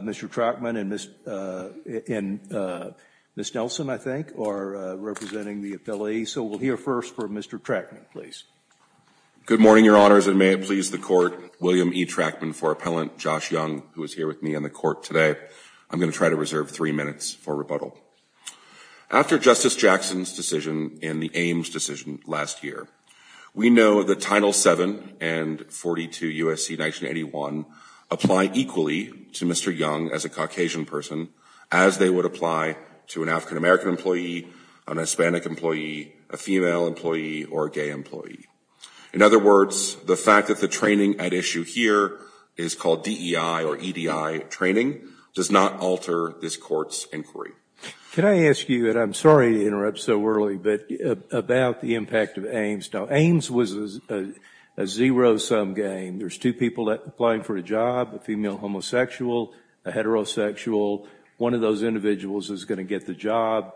Mr. Trachman and Ms. Nelson, I think, are representing the appellees, so we'll hear first from Mr. Trachman, please. Good morning, Your Honors, and may it please the Court, William E. Trachman for Appellant Josh Young, who is here with me on the Court today. I'm going to try to reserve three minutes for rebuttal. After Justice Jackson's decision and the Ames decision last year, we know that Title VII and Title VIII, and 42 U.S.C. 1981, apply equally to Mr. Young as a Caucasian person as they would apply to an African American employee, an Hispanic employee, a female employee, or a gay employee. In other words, the fact that the training at issue here is called DEI or EDI training does not alter this Court's inquiry. Can I ask you, and I'm sorry to interrupt so early, but about the impact of Ames. Now, Ames was a zero-sum game. There's two people applying for a job, a female homosexual, a heterosexual. One of those individuals is going to get the job,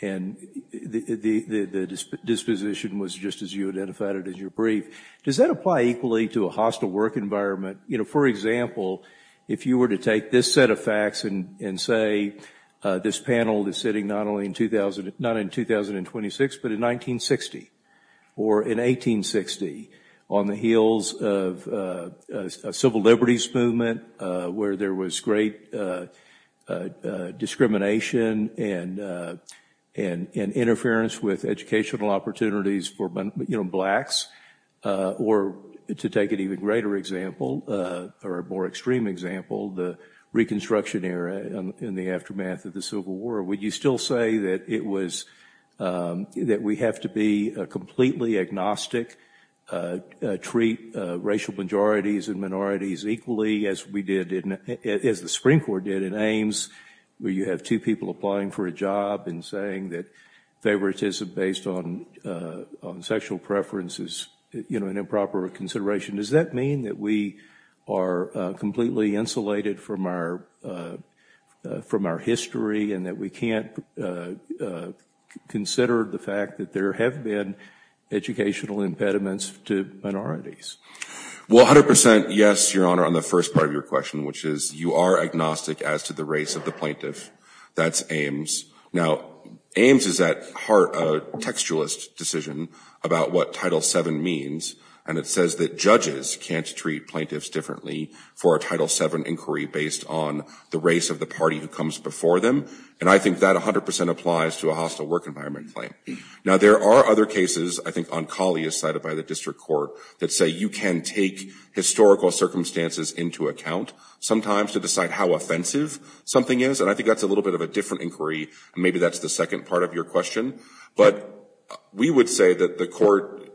and the disposition was just as you identified it in your brief. Does that apply equally to a hostile work environment? You know, for example, if you were to take this set of facts and say this panel is sitting not only in 2000, not in 2026, but in 1960 or in 1860 on the heels of a civil liberties movement where there was great discrimination and interference with educational opportunities for, you know, blacks, or to take an even greater example or a more extreme example, the Reconstruction era in the aftermath of the Civil War, would you still say that it was, that we have to be completely agnostic, treat racial majorities and minorities equally as we did in, as the Supreme Court did in Ames where you have two people applying for a job and saying that favoritism based on sexual preference is, you know, an improper consideration? Does that mean that we are completely insulated from our history and that we can't consider the fact that there have been educational impediments to minorities? Well, 100% yes, Your Honor, on the first part of your question, which is you are agnostic as to the race of the plaintiff. That's Ames. Now, Ames is at heart a textualist decision about what Title VII means, and it says that judges can't treat plaintiffs differently for a Title VII inquiry based on the race of the party who comes before them, and I think that 100% applies to a hostile work environment claim. Now, there are other cases, I think on Colley as cited by the District Court, that say you can take historical circumstances into account sometimes to decide how offensive something is, and I think that's a little bit of a different inquiry, and maybe that's the second part of your question, but we would say that the Court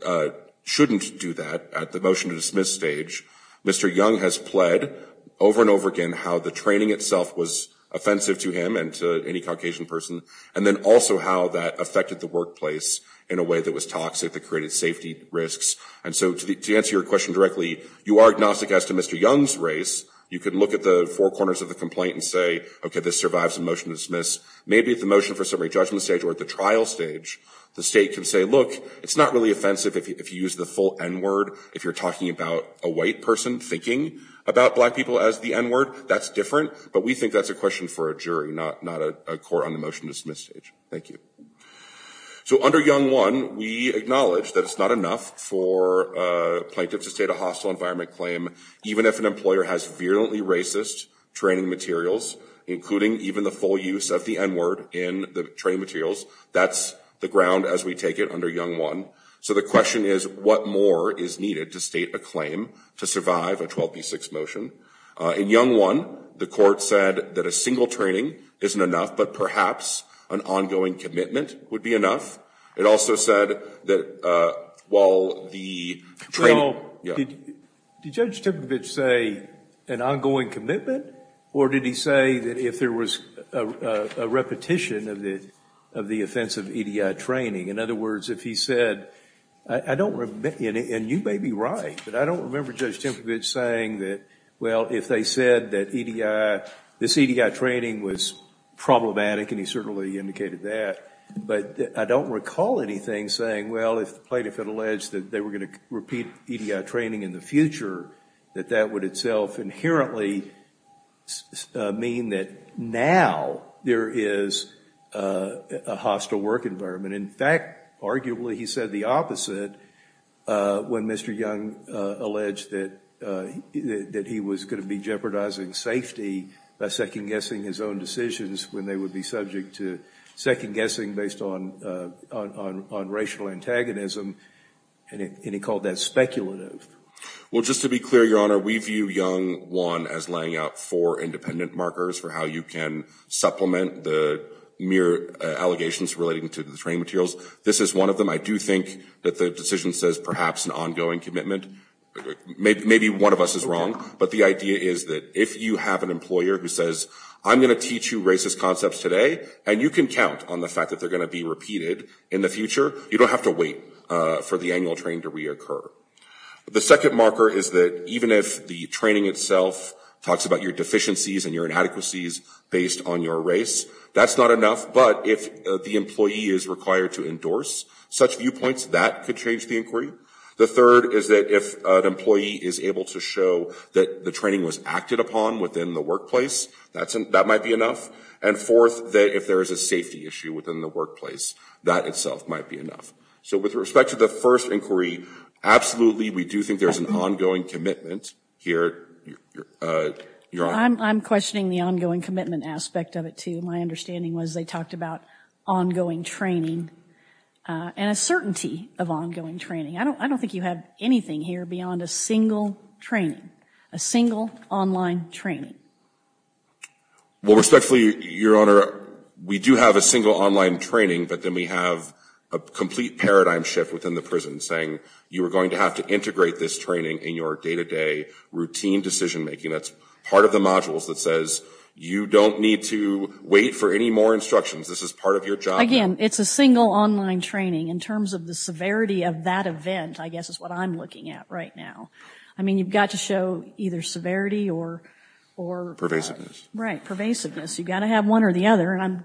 shouldn't do that at the motion to dismiss stage. Mr. Young has pled over and over again how the training itself was offensive to him and to any Caucasian person, and then also how that affected the workplace in a way that was toxic that created safety risks, and so to answer your question directly, you are agnostic as to Mr. Young's race. You can look at the four corners of the complaint and say, okay, this survives the motion to dismiss. Maybe at the motion for summary judgment stage or at the trial stage, the state can say, look, it's not really offensive if you use the full N-word. If you're talking about a white person thinking about black people as the N-word, that's different, but we think that's a question for a jury, not a court on the motion to dismiss stage. Thank you. So under Young 1, we acknowledge that it's not enough for a plaintiff to state a hostile environment claim, even if an employer has virulently racist training materials, including even the full use of the N-word in the training materials. That's the ground as we take it under Young 1. So the question is, what more is needed to state a claim to survive a 12B6 motion? In Young 1, the court said that a single training isn't enough, but perhaps an ongoing commitment would be enough. It also said that while the training – Well, did Judge Timkovich say an ongoing commitment, or did he say that if there was a repetition of the offensive EDI training? In other words, if he said – and you may be right, but I don't remember Judge Timkovich saying that, well, if they said that EDI – this EDI training was problematic, and he certainly indicated that, but I don't recall anything saying, well, if the plaintiff had alleged that they were going to repeat EDI training in the future, that that would itself inherently mean that now there is a hostile work environment. In fact, arguably, he said the opposite when Mr. Young alleged that he was going to be jeopardizing safety by second-guessing his own decisions when they would be subject to second-guessing based on racial antagonism, and he called that speculative. Well, just to be clear, Your Honor, we view Young 1 as laying out four independent markers for how you can supplement the mere allegations relating to the training materials. This is one of them. I do think that the decision says perhaps an ongoing commitment. Maybe one of us is wrong, but the idea is that if you have an employer who says, I'm going to teach you racist concepts today, and you can count on the fact that they're going to be repeated in the future, you don't have to wait for the annual training to reoccur. The second marker is that even if the training itself talks about your deficiencies and your inadequacies based on your race, that's not enough. But if the employee is required to endorse such viewpoints, that could change the inquiry. The third is that if an employee is able to show that the training was acted upon within the workplace, that might be enough. And fourth, if there is a safety issue within the workplace, that itself might be enough. So with respect to the first inquiry, absolutely we do think there's an ongoing commitment here. Your Honor. I'm questioning the ongoing commitment aspect of it, too. My understanding was they talked about ongoing training and a certainty of ongoing training. I don't think you have anything here beyond a single training, a single online training. Well, respectfully, Your Honor, we do have a single online training, but then we have a complete paradigm shift within the prison saying you are going to have to integrate this training in your day-to-day routine decision-making. That's part of the modules that says you don't need to wait for any more instructions. This is part of your job. Again, it's a single online training. In terms of the severity of that event, I guess is what I'm looking at right now. I mean, you've got to show either severity or... Pervasiveness. Right. Pervasiveness. You've got to have one or the other. And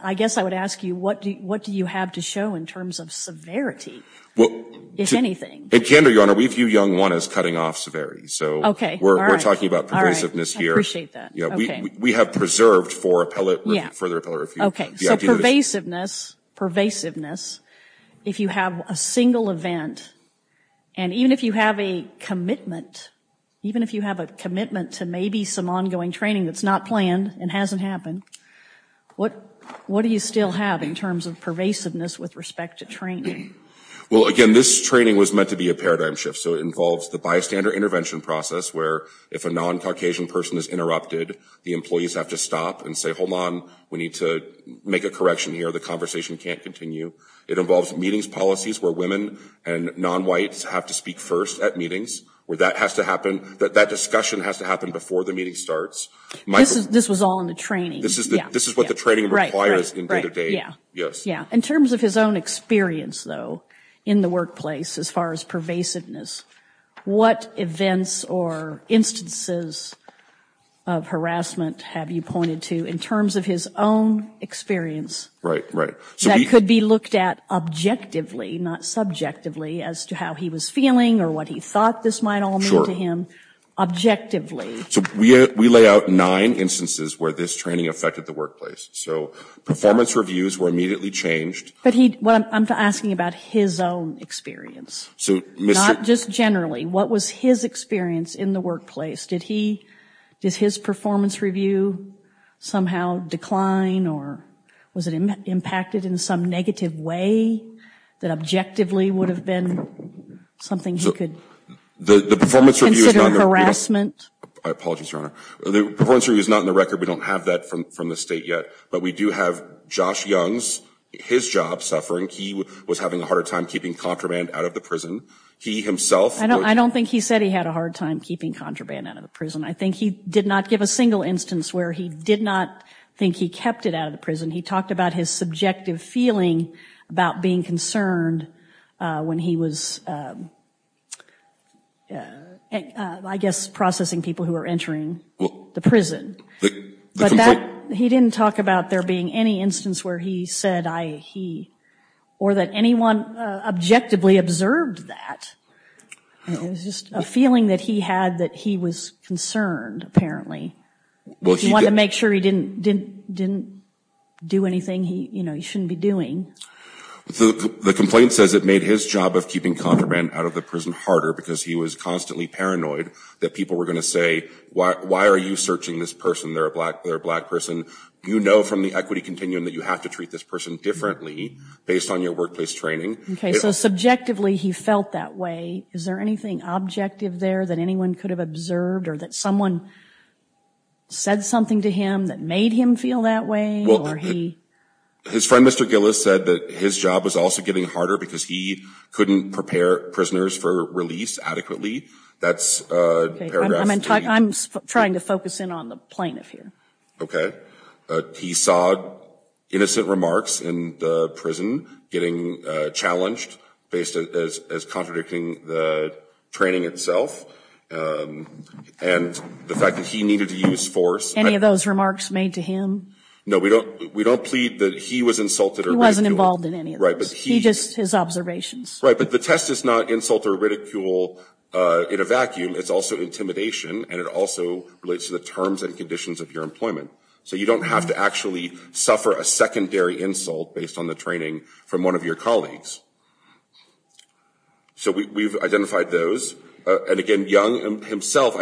I guess I would ask you what do you have to show in terms of severity, if anything? Kandor, Your Honor, we view young one as cutting off severity. Okay. We're talking about pervasiveness here. I appreciate that. We have preserved for further appellate review. Okay. So pervasiveness, if you have a single event, and even if you have a commitment, even if you have a commitment to maybe some ongoing training that's not planned and hasn't happened, what do you still have in terms of pervasiveness with respect to training? Well, again, this training was meant to be a paradigm shift, so it involves the bystander intervention process where if a non-Caucasian person is interrupted, the employees have to stop and say, hold on, we need to make a correction here. The conversation can't continue. It involves meetings policies where women and non-whites have to speak first at meetings, where that has to happen, that discussion has to happen before the meeting starts. This was all in the training. This is what the training requires in day-to-day. Yes. In terms of his own experience, though, in the workplace as far as pervasiveness, what events or instances of harassment have you pointed to in terms of his own experience? Right, right. That could be looked at objectively, not subjectively, as to how he was feeling or what he thought this might all mean to him. Objectively. So we lay out nine instances where this training affected the workplace. So performance reviews were immediately changed. But I'm asking about his own experience. So Mr. Not just generally. What was his experience in the workplace? Did he, did his performance review somehow decline or was it impacted in some negative way that objectively would have been something he could consider harassment? The performance review is not in the record. I apologize, Your Honor. The performance review is not in the record. We don't have that from the state yet. But we do have Josh Young's, his job, suffering. He was having a hard time keeping contraband out of the prison. He himself. I don't think he said he had a hard time keeping contraband out of the prison. I think he did not give a single instance where he did not think he kept it out of the prison. He talked about his subjective feeling about being concerned when he was, I guess, processing people who were entering the prison. But he didn't talk about there being any instance where he said I, he, or that anyone objectively observed that. It was just a feeling that he had that he was concerned, apparently. He wanted to make sure he didn't do anything he shouldn't be doing. The complaint says it made his job of keeping contraband out of the prison harder because he was constantly paranoid that people were going to say, why are you searching this person? They're a black person. You know from the equity continuum that you have to treat this person differently based on your workplace training. Okay. So subjectively he felt that way. Is there anything objective there that anyone could have observed or that someone said something to him that made him feel that way? Well, his friend, Mr. Gillis, said that his job was also getting harder because he couldn't prepare prisoners for release adequately. That's paragraph 3. I'm trying to focus in on the plaintiff here. Okay. He saw innocent remarks in the prison getting challenged as contradicting the training itself. And the fact that he needed to use force. Any of those remarks made to him? No, we don't plead that he was insulted or ridiculed. He wasn't involved in any of those. Right. He just, his observations. Right, but the test is not insult or ridicule in a vacuum. It's also intimidation, and it also relates to the terms and conditions of your employment. So you don't have to actually suffer a secondary insult based on the training from one of your colleagues. So we've identified those. And, again, Young himself,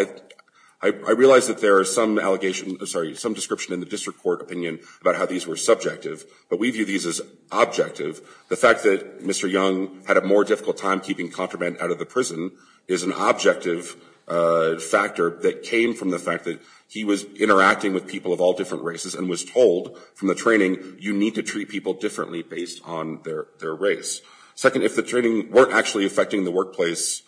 I realize that there are some allegations, sorry, some description in the district court opinion about how these were subjective. But we view these as objective. The fact that Mr. Young had a more difficult time keeping contraband out of the prison is an objective factor that came from the fact that he was interacting with people of all different races and was told from the training, you need to treat people differently based on their race. Second, if the training weren't actually affecting the workplace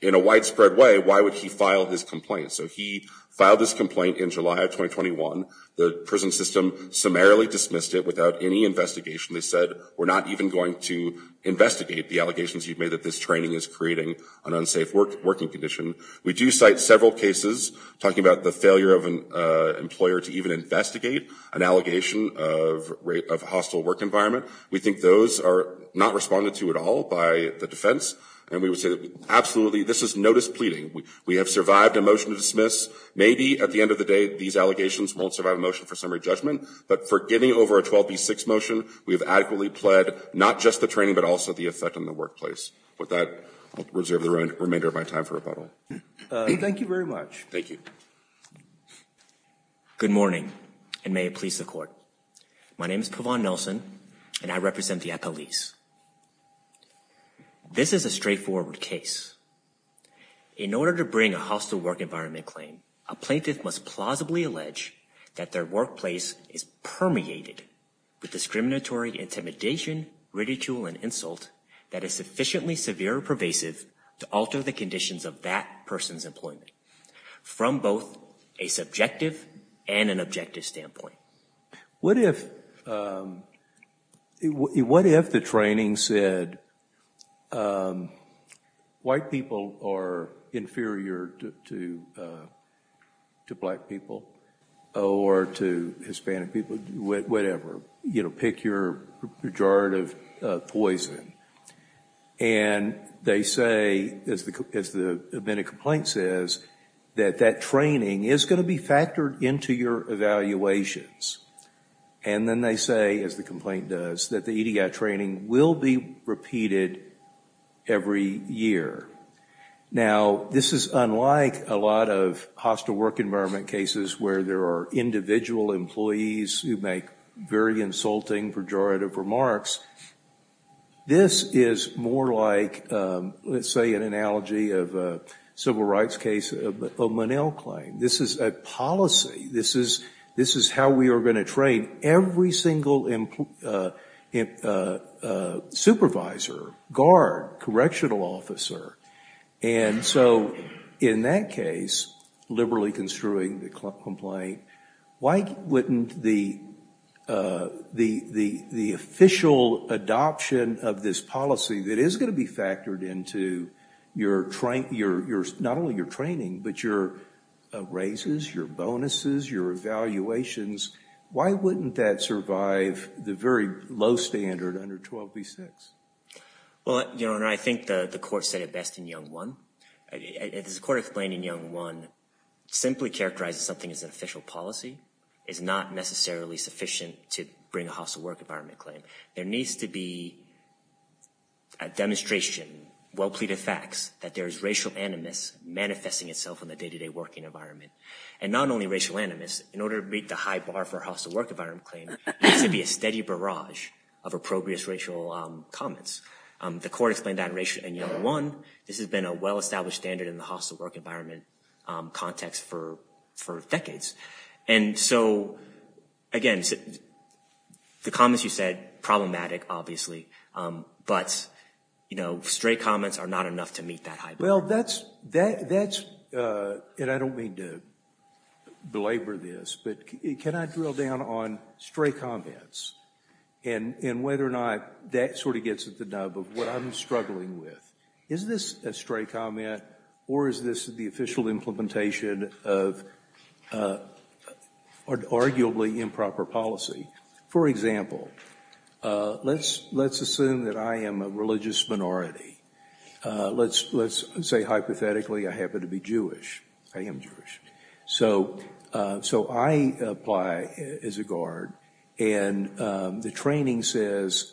in a widespread way, why would he file his complaint? So he filed his complaint in July of 2021. The prison system summarily dismissed it without any investigation. They said, we're not even going to investigate the allegations you've made that this training is creating an unsafe working condition. We do cite several cases talking about the failure of an employer to even investigate an allegation of hostile work environment. We think those are not responded to at all by the defense. And we would say that, absolutely, this is notice pleading. We have survived a motion to dismiss. Maybe at the end of the day these allegations won't survive a motion for summary judgment. But for getting over a 12B6 motion, we have adequately pled not just the training, but also the effect on the workplace. With that, I'll reserve the remainder of my time for rebuttal. Thank you very much. Thank you. Good morning, and may it please the court. My name is Pavan Nelson, and I represent the police. This is a straightforward case. In order to bring a hostile work environment claim, a plaintiff must plausibly allege that their workplace is permeated with discriminatory intimidation, ridicule, and insult that is sufficiently severe or pervasive to alter the conditions of that person's employment from both a subjective and an objective standpoint. What if the training said white people are inferior to black people, or to Hispanic people, whatever. Pick your pejorative poison. And they say, as the amended complaint says, that that training is going to be factored into your evaluations. And then they say, as the complaint does, that the EDI training will be repeated every year. Now, this is unlike a lot of hostile work environment cases where there are individual employees who make very insulting pejorative remarks. This is more like, let's say, an analogy of a civil rights case of a Monell claim. This is a policy. This is how we are going to train every single supervisor, guard, correctional officer. And so in that case, liberally construing the complaint, why wouldn't the official adoption of this policy that is going to be factored into not only your training, but your raises, your bonuses, your evaluations, why wouldn't that survive the very low standard under 12b-6? Well, Your Honor, I think the court said it best in Young 1. As the court explained in Young 1, simply characterizing something as an official policy is not necessarily sufficient to bring a hostile work environment claim. There needs to be a demonstration, well-pleaded facts, that there is racial animus manifesting itself in the day-to-day working environment. And not only racial animus, in order to beat the high bar for a hostile work environment claim, there needs to be a steady barrage of appropriate racial comments. The court explained that in Young 1. This has been a well-established standard in the hostile work environment context for decades. And so, again, the comments you said, problematic, obviously, but stray comments are not enough to meet that high bar. Well, that's, and I don't mean to belabor this, but can I drill down on stray comments and whether or not that sort of gets at the nub of what I'm struggling with. Is this a stray comment, or is this the official implementation of arguably improper policy? For example, let's assume that I am a religious minority. Let's say, hypothetically, I happen to be Jewish. I am Jewish. So I apply as a guard, and the training says,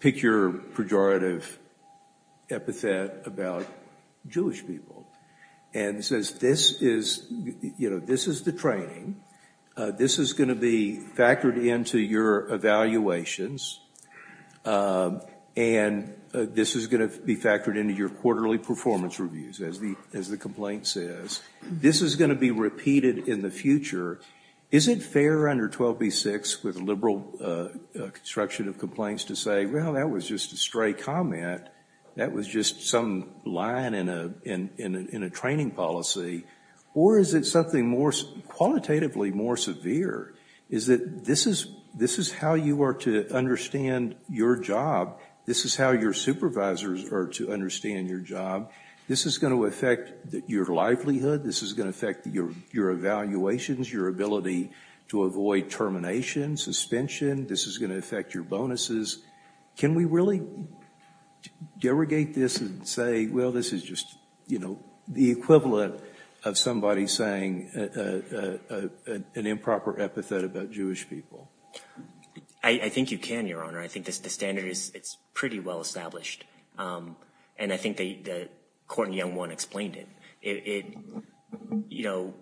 pick your pejorative epithet about Jewish people. And it says, this is the training. This is going to be factored into your evaluations, and this is going to be factored into your quarterly performance reviews, as the complaint says. This is going to be repeated in the future. Is it fair under 12b-6 with liberal construction of complaints to say, well, that was just a stray comment. That was just some line in a training policy. Or is it something more, qualitatively more severe? Is it, this is how you are to understand your job. This is how your supervisors are to understand your job. This is going to affect your livelihood. This is going to affect your evaluations, your ability to avoid termination, suspension. This is going to affect your bonuses. Can we really derogate this and say, well, this is just, you know, the equivalent of somebody saying an improper epithet about Jewish people? I think you can, Your Honor. I think the standard is pretty well established. And I think the court in Young 1 explained it. It, you know,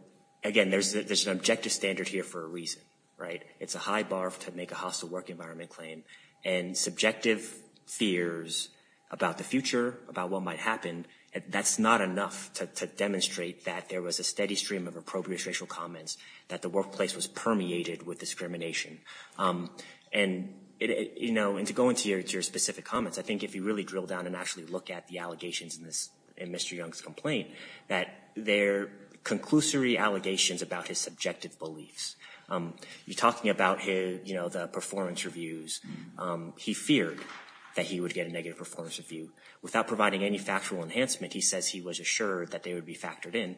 again, there's an objective standard here for a reason, right? It's a high bar to make a hostile work environment claim. And subjective fears about the future, about what might happen, that's not enough to demonstrate that there was a steady stream of appropriate racial comments, that the workplace was permeated with discrimination. And, you know, and to go into your specific comments, I think if you really drill down and actually look at the allegations in this, in Mr. Young's complaint, that they're conclusory allegations about his subjective beliefs. You're talking about his, you know, the performance reviews. He feared that he would get a negative performance review. Without providing any factual enhancement, he says he was assured that they would be factored in.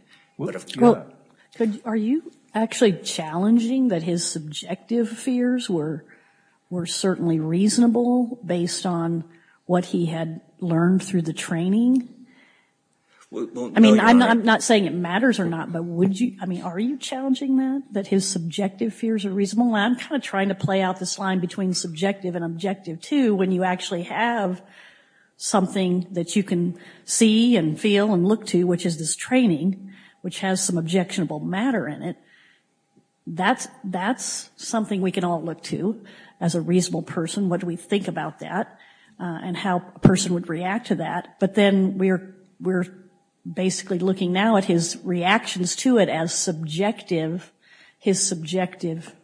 Are you actually challenging that his subjective fears were certainly reasonable based on what he had learned through the training? I mean, I'm not saying it matters or not, but would you, I mean, are you challenging that, that his subjective fears are reasonable? I'm kind of trying to play out this line between subjective and objective, too, when you actually have something that you can see and feel and look to, which is this training, which has some objectionable matter in it. That's something we can all look to as a reasonable person. What do we think about that and how a person would react to that? But then we're basically looking now at his reactions to it as subjective, his subjective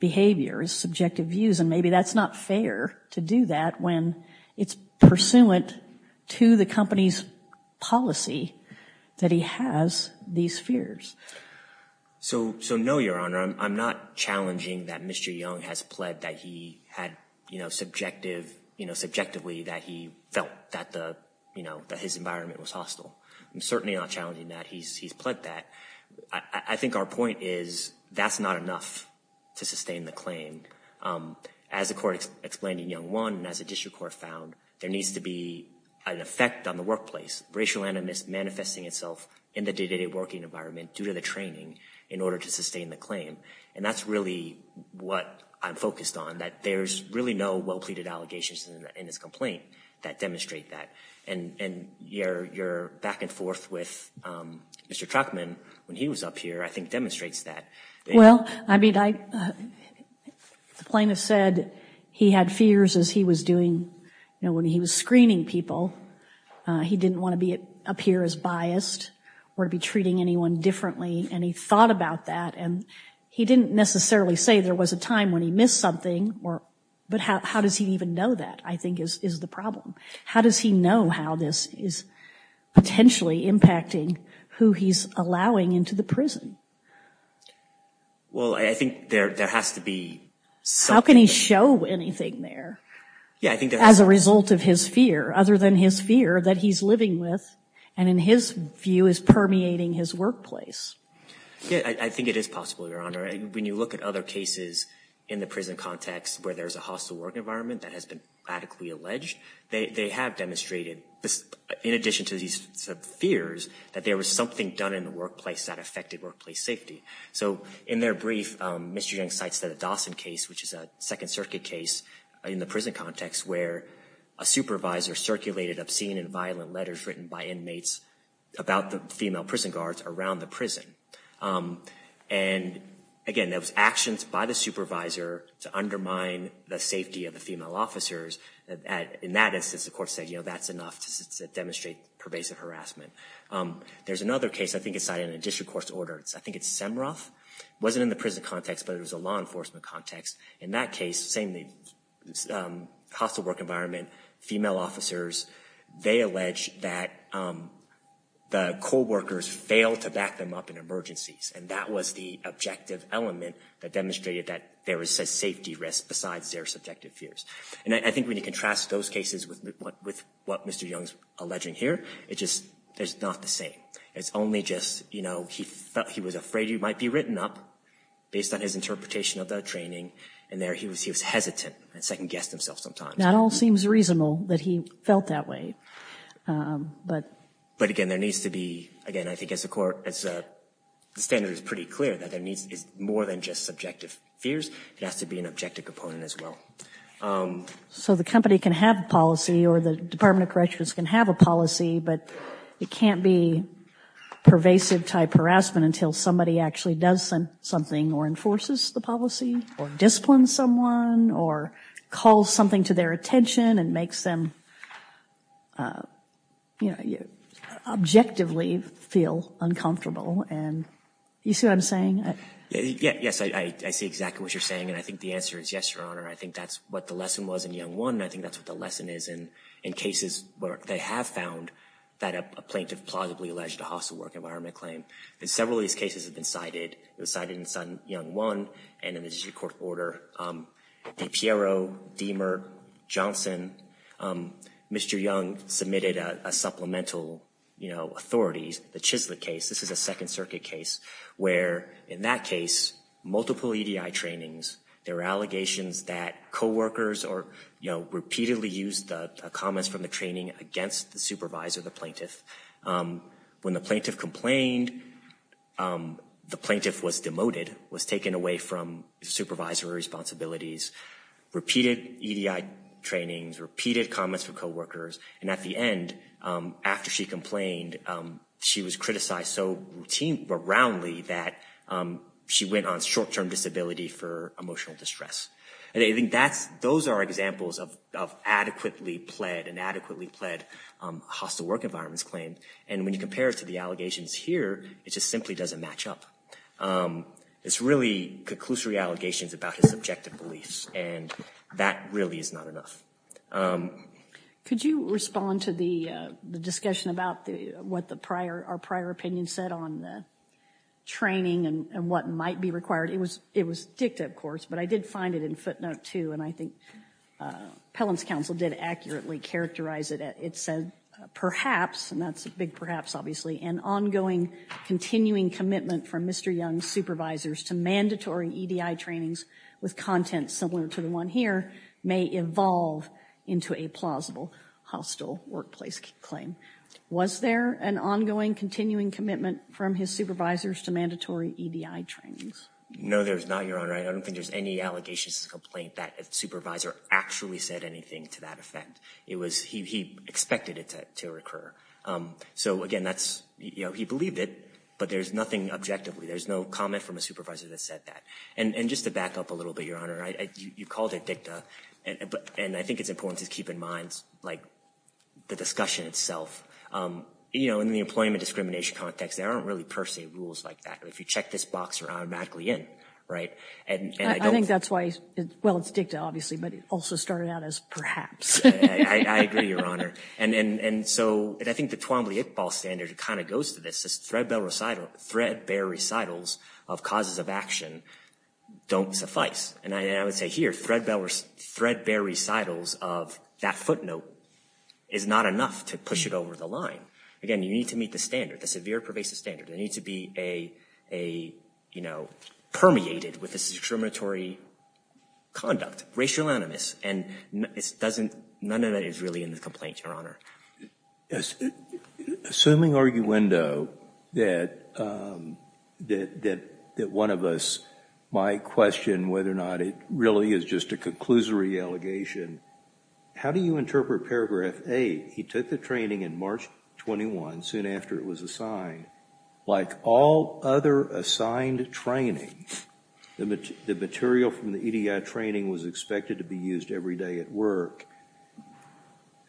behaviors, subjective views, and maybe that's not fair to do that when it's pursuant to the company's policy that he has these fears. So no, Your Honor. I'm not challenging that Mr. Young has pled that he had, you know, subjective, you know, subjectively that he felt that the, you know, that his environment was hostile. I'm certainly not challenging that. He's pled that. I think our point is that's not enough to sustain the claim. As the court explained in Young 1 and as the district court found, there needs to be an effect on the workplace, racial animus manifesting itself in the day-to-day working environment due to the training in order to sustain the claim. And that's really what I'm focused on, that there's really no well-pleaded allegations in his complaint that demonstrate that. And your back and forth with Mr. Truckman when he was up here, I think, demonstrates that. Well, I mean, the plaintiff said he had fears as he was doing, you know, when he was screening people. He didn't want to appear as biased or to be treating anyone differently. And he thought about that. And he didn't necessarily say there was a time when he missed something. But how does he even know that, I think, is the problem. How does he know how this is potentially impacting who he's allowing into the prison? Well, I think there has to be something. How can he show anything there as a result of his fear, other than his fear that he's living with and, in his view, is permeating his workplace? Yeah, I think it is possible, Your Honor. And when you look at other cases in the prison context where there's a hostile work environment that has been radically alleged, they have demonstrated, in addition to these fears, that there was something done in the workplace that affected workplace safety. So in their brief, Mr. Young cites the Dawson case, which is a Second Circuit case in the prison context, where a supervisor circulated obscene and violent letters written by inmates about the female prison guards around the prison. And, again, there was actions by the supervisor to undermine the safety of the female officers. In that instance, the court said, you know, that's enough to demonstrate pervasive harassment. There's another case I think is cited in the district court's order. I think it's Semroth. It wasn't in the prison context, but it was a law enforcement context. In that case, same hostile work environment, female officers, they allege that the co-workers failed to back them up in emergencies, and that was the objective element that demonstrated that there was a safety risk besides their subjective fears. And I think when you contrast those cases with what Mr. Young is alleging here, it's just not the same. It's only just, you know, he was afraid he might be written up based on his interpretation of the training, and there he was hesitant and second-guessed himself sometimes. Not all seems reasonable that he felt that way. But, again, there needs to be, again, I think as the standard is pretty clear, that there is more than just subjective fears. It has to be an objective component as well. So the company can have a policy or the Department of Corrections can have a policy, but it can't be pervasive-type harassment until somebody actually does something or enforces the policy or disciplines someone or calls something to their attention and makes them, you know, objectively feel uncomfortable. And you see what I'm saying? Yes, I see exactly what you're saying, and I think the answer is yes, Your Honor. I think that's what the lesson was in Young 1, and I think that's what the lesson is in cases where they have found that a plaintiff plausibly alleged a hostile work environment claim. And several of these cases have been cited. It was cited in Young 1 and in the District Court of Order. DiPiero, Deamer, Johnson, Mr. Young submitted a supplemental authority, the Chislett case. This is a Second Circuit case where, in that case, multiple EDI trainings, there were allegations that coworkers repeatedly used the comments from the training against the supervisor, the plaintiff. When the plaintiff complained, the plaintiff was demoted, was taken away from supervisory responsibilities, repeated EDI trainings, repeated comments from coworkers, and at the end, after she complained, she was criticized so routinely that she went on short-term disability for emotional distress. Those are examples of adequately pled, inadequately pled hostile work environments claims, and when you compare it to the allegations here, it just simply doesn't match up. It's really conclusory allegations about his objective beliefs, and that really is not enough. Could you respond to the discussion about what our prior opinion said on the training and what might be required? It was dicta, of course, but I did find it in footnote 2, and I think Pelham's counsel did accurately characterize it. It said, perhaps, and that's a big perhaps, obviously, an ongoing continuing commitment from Mr. Young's supervisors to mandatory EDI trainings with content similar to the one here may evolve into a plausible hostile workplace claim. Was there an ongoing continuing commitment from his supervisors to mandatory EDI trainings? No, there's not, Your Honor. I don't think there's any allegations of complaint that a supervisor actually said anything to that effect. It was he expected it to recur. So, again, that's, you know, he believed it, but there's nothing objectively. There's no comment from a supervisor that said that. And just to back up a little bit, Your Honor, you called it dicta, and I think it's important to keep in mind, like, the discussion itself. You know, in the employment discrimination context, there aren't really per se rules like that. If you check this box, you're automatically in, right? I think that's why, well, it's dicta, obviously, but it also started out as perhaps. I agree, Your Honor. And so I think the Twombly-Iqbal standard kind of goes to this. Threadbare recitals of causes of action don't suffice. And I would say here, threadbare recitals of that footnote is not enough to push it over the line. Again, you need to meet the standard, the severe pervasive standard. They need to be a, you know, permeated with discriminatory conduct, racial animus. And none of that is really in the complaint, Your Honor. Assuming, arguendo, that one of us might question whether or not it really is just a conclusory allegation, how do you interpret paragraph 8, he took the training in March 21, soon after it was assigned. Like all other assigned training, the material from the EDI training was expected to be used every day at work.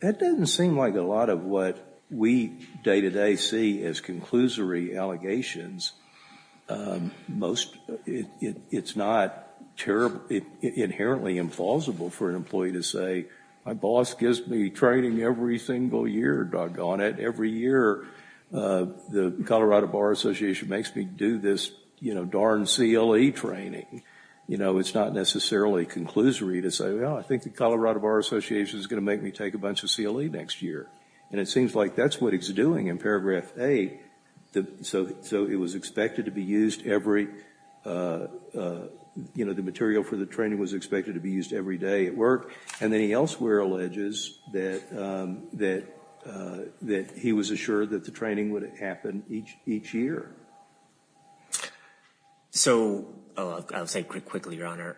That doesn't seem like a lot of what we day-to-day see as conclusory allegations. Most, it's not terribly, inherently implausible for an employee to say, my boss gives me training every single year, doggone it. Every year, the Colorado Bar Association makes me do this, you know, darn CLE training. You know, it's not necessarily conclusory to say, well, I think the Colorado Bar Association is going to make me take a bunch of CLE next year. And it seems like that's what he's doing in paragraph 8, so it was expected to be used every, you know, the material for the training was expected to be used every day at work. And then he elsewhere alleges that he was assured that the training would happen each year. So, I'll say quickly, Your Honor,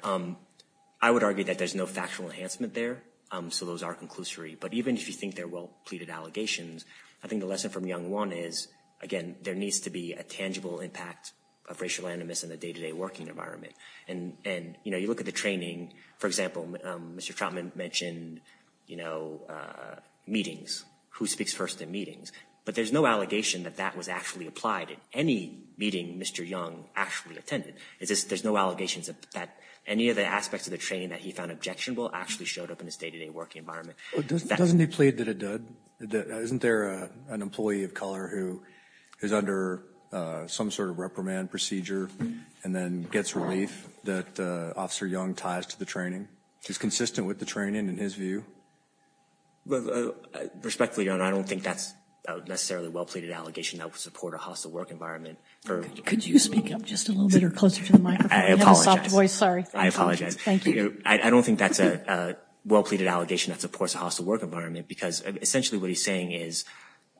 I would argue that there's no factual enhancement there. So those are conclusory. But even if you think they're well-pleaded allegations, I think the lesson from young one is, again, there needs to be a tangible impact of racial animus in the day-to-day working environment. And, you know, you look at the training, for example, Mr. Trautman mentioned, you know, meetings, who speaks first in meetings. But there's no allegation that that was actually applied at any meeting Mr. Young actually attended. There's no allegations that any of the aspects of the training that he found objectionable actually showed up in his day-to-day working environment. Doesn't he plead that it did? Isn't there an employee of color who is under some sort of reprimand procedure and then gets relief that Officer Young ties to the training? Is consistent with the training in his view? Respectfully, Your Honor, I don't think that's necessarily a well-pleaded allegation that would support a hostile work environment. Could you speak up just a little bit or closer to the microphone? I apologize. I apologize. Thank you. I don't think that's a well-pleaded allegation that supports a hostile work environment because essentially what he's saying is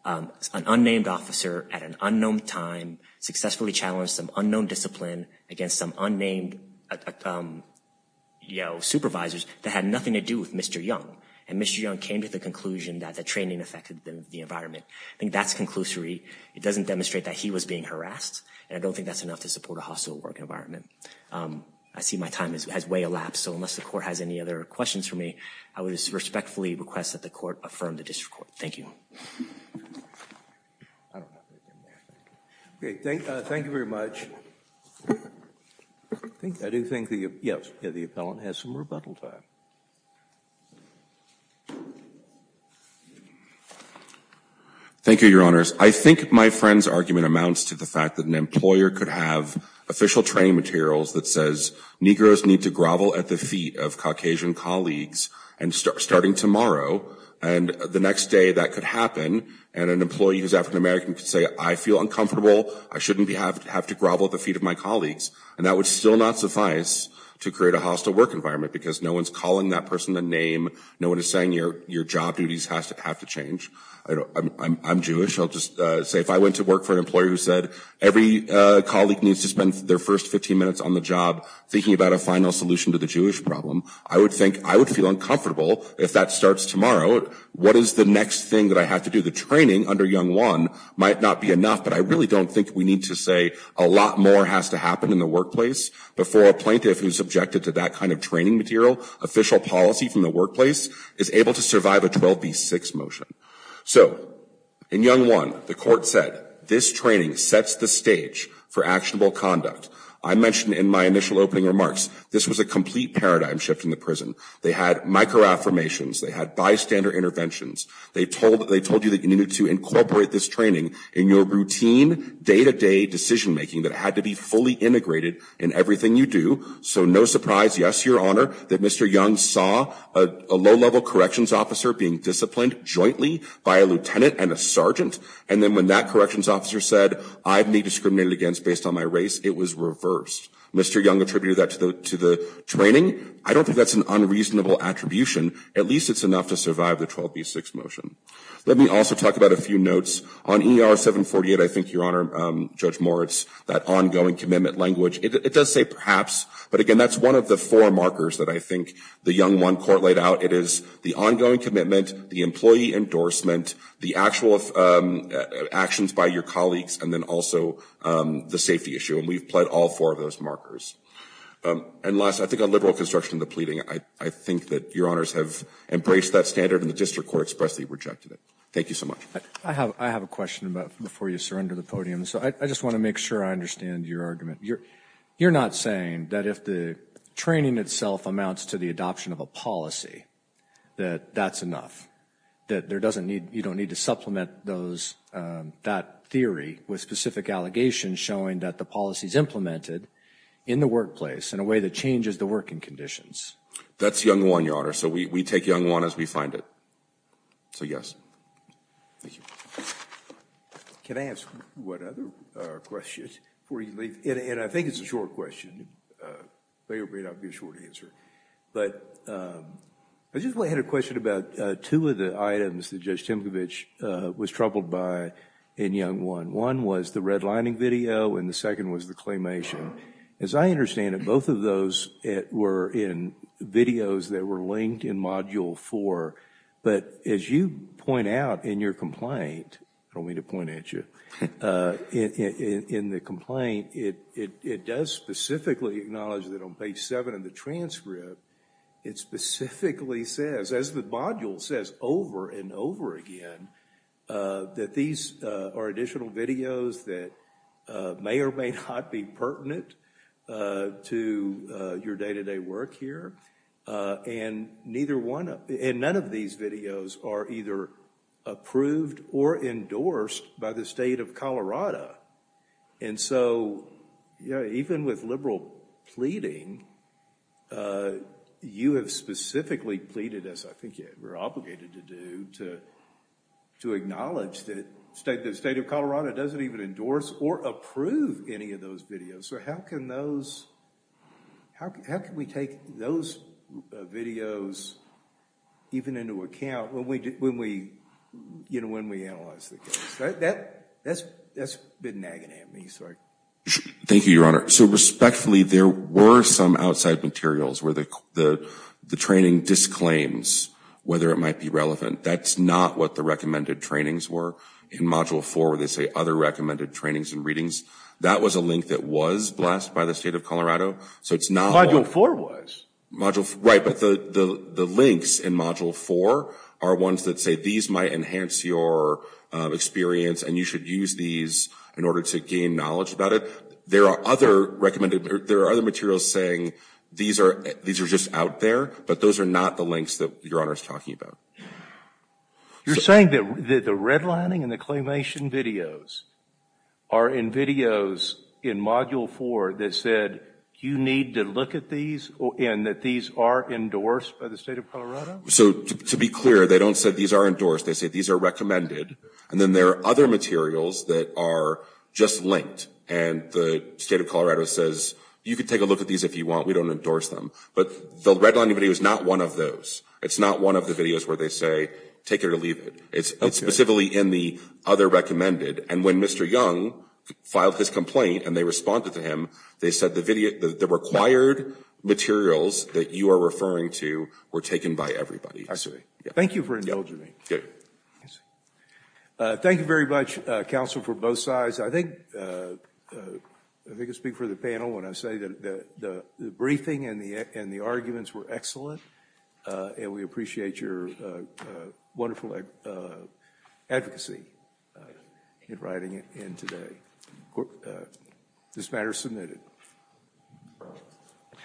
an unnamed officer at an unknown time successfully challenged some unknown discipline against some unnamed, you know, supervisors that had nothing to do with Mr. Young. And Mr. Young came to the conclusion that the training affected the environment. I think that's conclusory. It doesn't demonstrate that he was being harassed. And I don't think that's enough to support a hostile work environment. I see my time has way elapsed. So unless the Court has any other questions for me, I would respectfully request that the Court affirm the District Court. Thank you. Okay. Thank you very much. I do think the appellant has some rebuttal time. Thank you, Your Honors. I think my friend's argument amounts to the fact that an employer could have official training materials that says, Negroes need to grovel at the feet of Caucasian colleagues starting tomorrow. And the next day that could happen and an employee who is African-American could say, I feel uncomfortable. I shouldn't have to grovel at the feet of my colleagues. And that would still not suffice to create a hostile work environment because no one's calling that person a name. No one is saying your job duties have to change. I'm Jewish. I'll just say if I went to work for an employer who said, every colleague needs to spend their first 15 minutes on the job thinking about a final solution to the Jewish problem, I would think, I would feel uncomfortable if that starts tomorrow. What is the next thing that I have to do? The training under Young One might not be enough, but I really don't think we need to say a lot more has to happen in the workplace before a plaintiff who's subjected to that kind of training material, official policy from the workplace, is able to survive a 12B6 motion. So in Young One, the court said, this training sets the stage for actionable conduct. I mentioned in my initial opening remarks, this was a complete paradigm shift in the prison. They had micro-affirmations. They had bystander interventions. They told you that you needed to incorporate this training in your routine day-to-day decision-making that had to be fully integrated in everything you do. So no surprise, yes, Your Honor, that Mr. Young saw a low-level corrections officer being disciplined jointly by a lieutenant and a sergeant. And then when that corrections officer said, I've been discriminated against based on my race, it was reversed. Mr. Young attributed that to the training. I don't think that's an unreasonable attribution. At least it's enough to survive the 12B6 motion. Let me also talk about a few notes. On ER 748, I think, Your Honor, Judge Moritz, that ongoing commitment language, it does say perhaps, but again, that's one of the four markers that I think the Young One court laid out. It is the ongoing commitment, the employee endorsement, the actual actions by your colleagues, and then also the safety issue. And we've pled all four of those markers. And last, I think on liberal construction of the pleading, I think that Your Honors have embraced that standard and the district court expressly rejected it. Thank you so much. I have a question before you surrender the podium. So I just want to make sure I understand your argument. You're not saying that if the training itself amounts to the adoption of a policy, that that's enough, that you don't need to supplement that theory with specific allegations showing that the policy is implemented in the workplace in a way that changes the working conditions? That's Young One, Your Honor. So we take Young One as we find it. So, yes. Thank you. Can I ask what other questions before you leave? And I think it's a short question. It may or may not be a short answer. But I just had a question about two of the items that Judge Timkovich was troubled by in Young One. One was the redlining video, and the second was the claymation. As I understand it, both of those were in videos that were linked in Module 4. But as you point out in your complaint, I don't mean to point at you, in the complaint, it does specifically acknowledge that on page 7 of the transcript, it specifically says, as the module says over and over again, that these are additional videos that may or may not be pertinent to your day-to-day work here. And none of these videos are either approved or endorsed by the state of Colorado. And so, even with liberal pleading, you have specifically pleaded, as I think you're obligated to do, to acknowledge that the state of Colorado doesn't even endorse or approve any of those videos. So, how can we take those videos even into account when we analyze the case? That's been nagging at me. Thank you, Your Honor. So, respectfully, there were some outside materials where the training disclaims whether it might be relevant. That's not what the recommended trainings were. In Module 4, where they say other recommended trainings and readings, that was a link that was blessed by the state of Colorado. Module 4 was? Right, but the links in Module 4 are ones that say these might enhance your experience, and you should use these in order to gain knowledge about it. There are other materials saying these are just out there, but those are not the links that Your Honor is talking about. You're saying that the redlining and the claimation videos are in videos in Module 4 that said you need to look at these and that these are endorsed by the state of Colorado? So, to be clear, they don't say these are endorsed. They say these are recommended, and then there are other materials that are just linked. And the state of Colorado says you can take a look at these if you want. We don't endorse them. But the redlining video is not one of those. It's not one of the videos where they say take it or leave it. It's specifically in the other recommended. And when Mr. Young filed his complaint and they responded to him, they said the required materials that you are referring to were taken by everybody. I see. Thank you for indulging me. Good. Thank you very much, counsel, for both sides. I think I can speak for the panel when I say that the briefing and the arguments were excellent, and we appreciate your wonderful advocacy in writing it in today. This matter is submitted.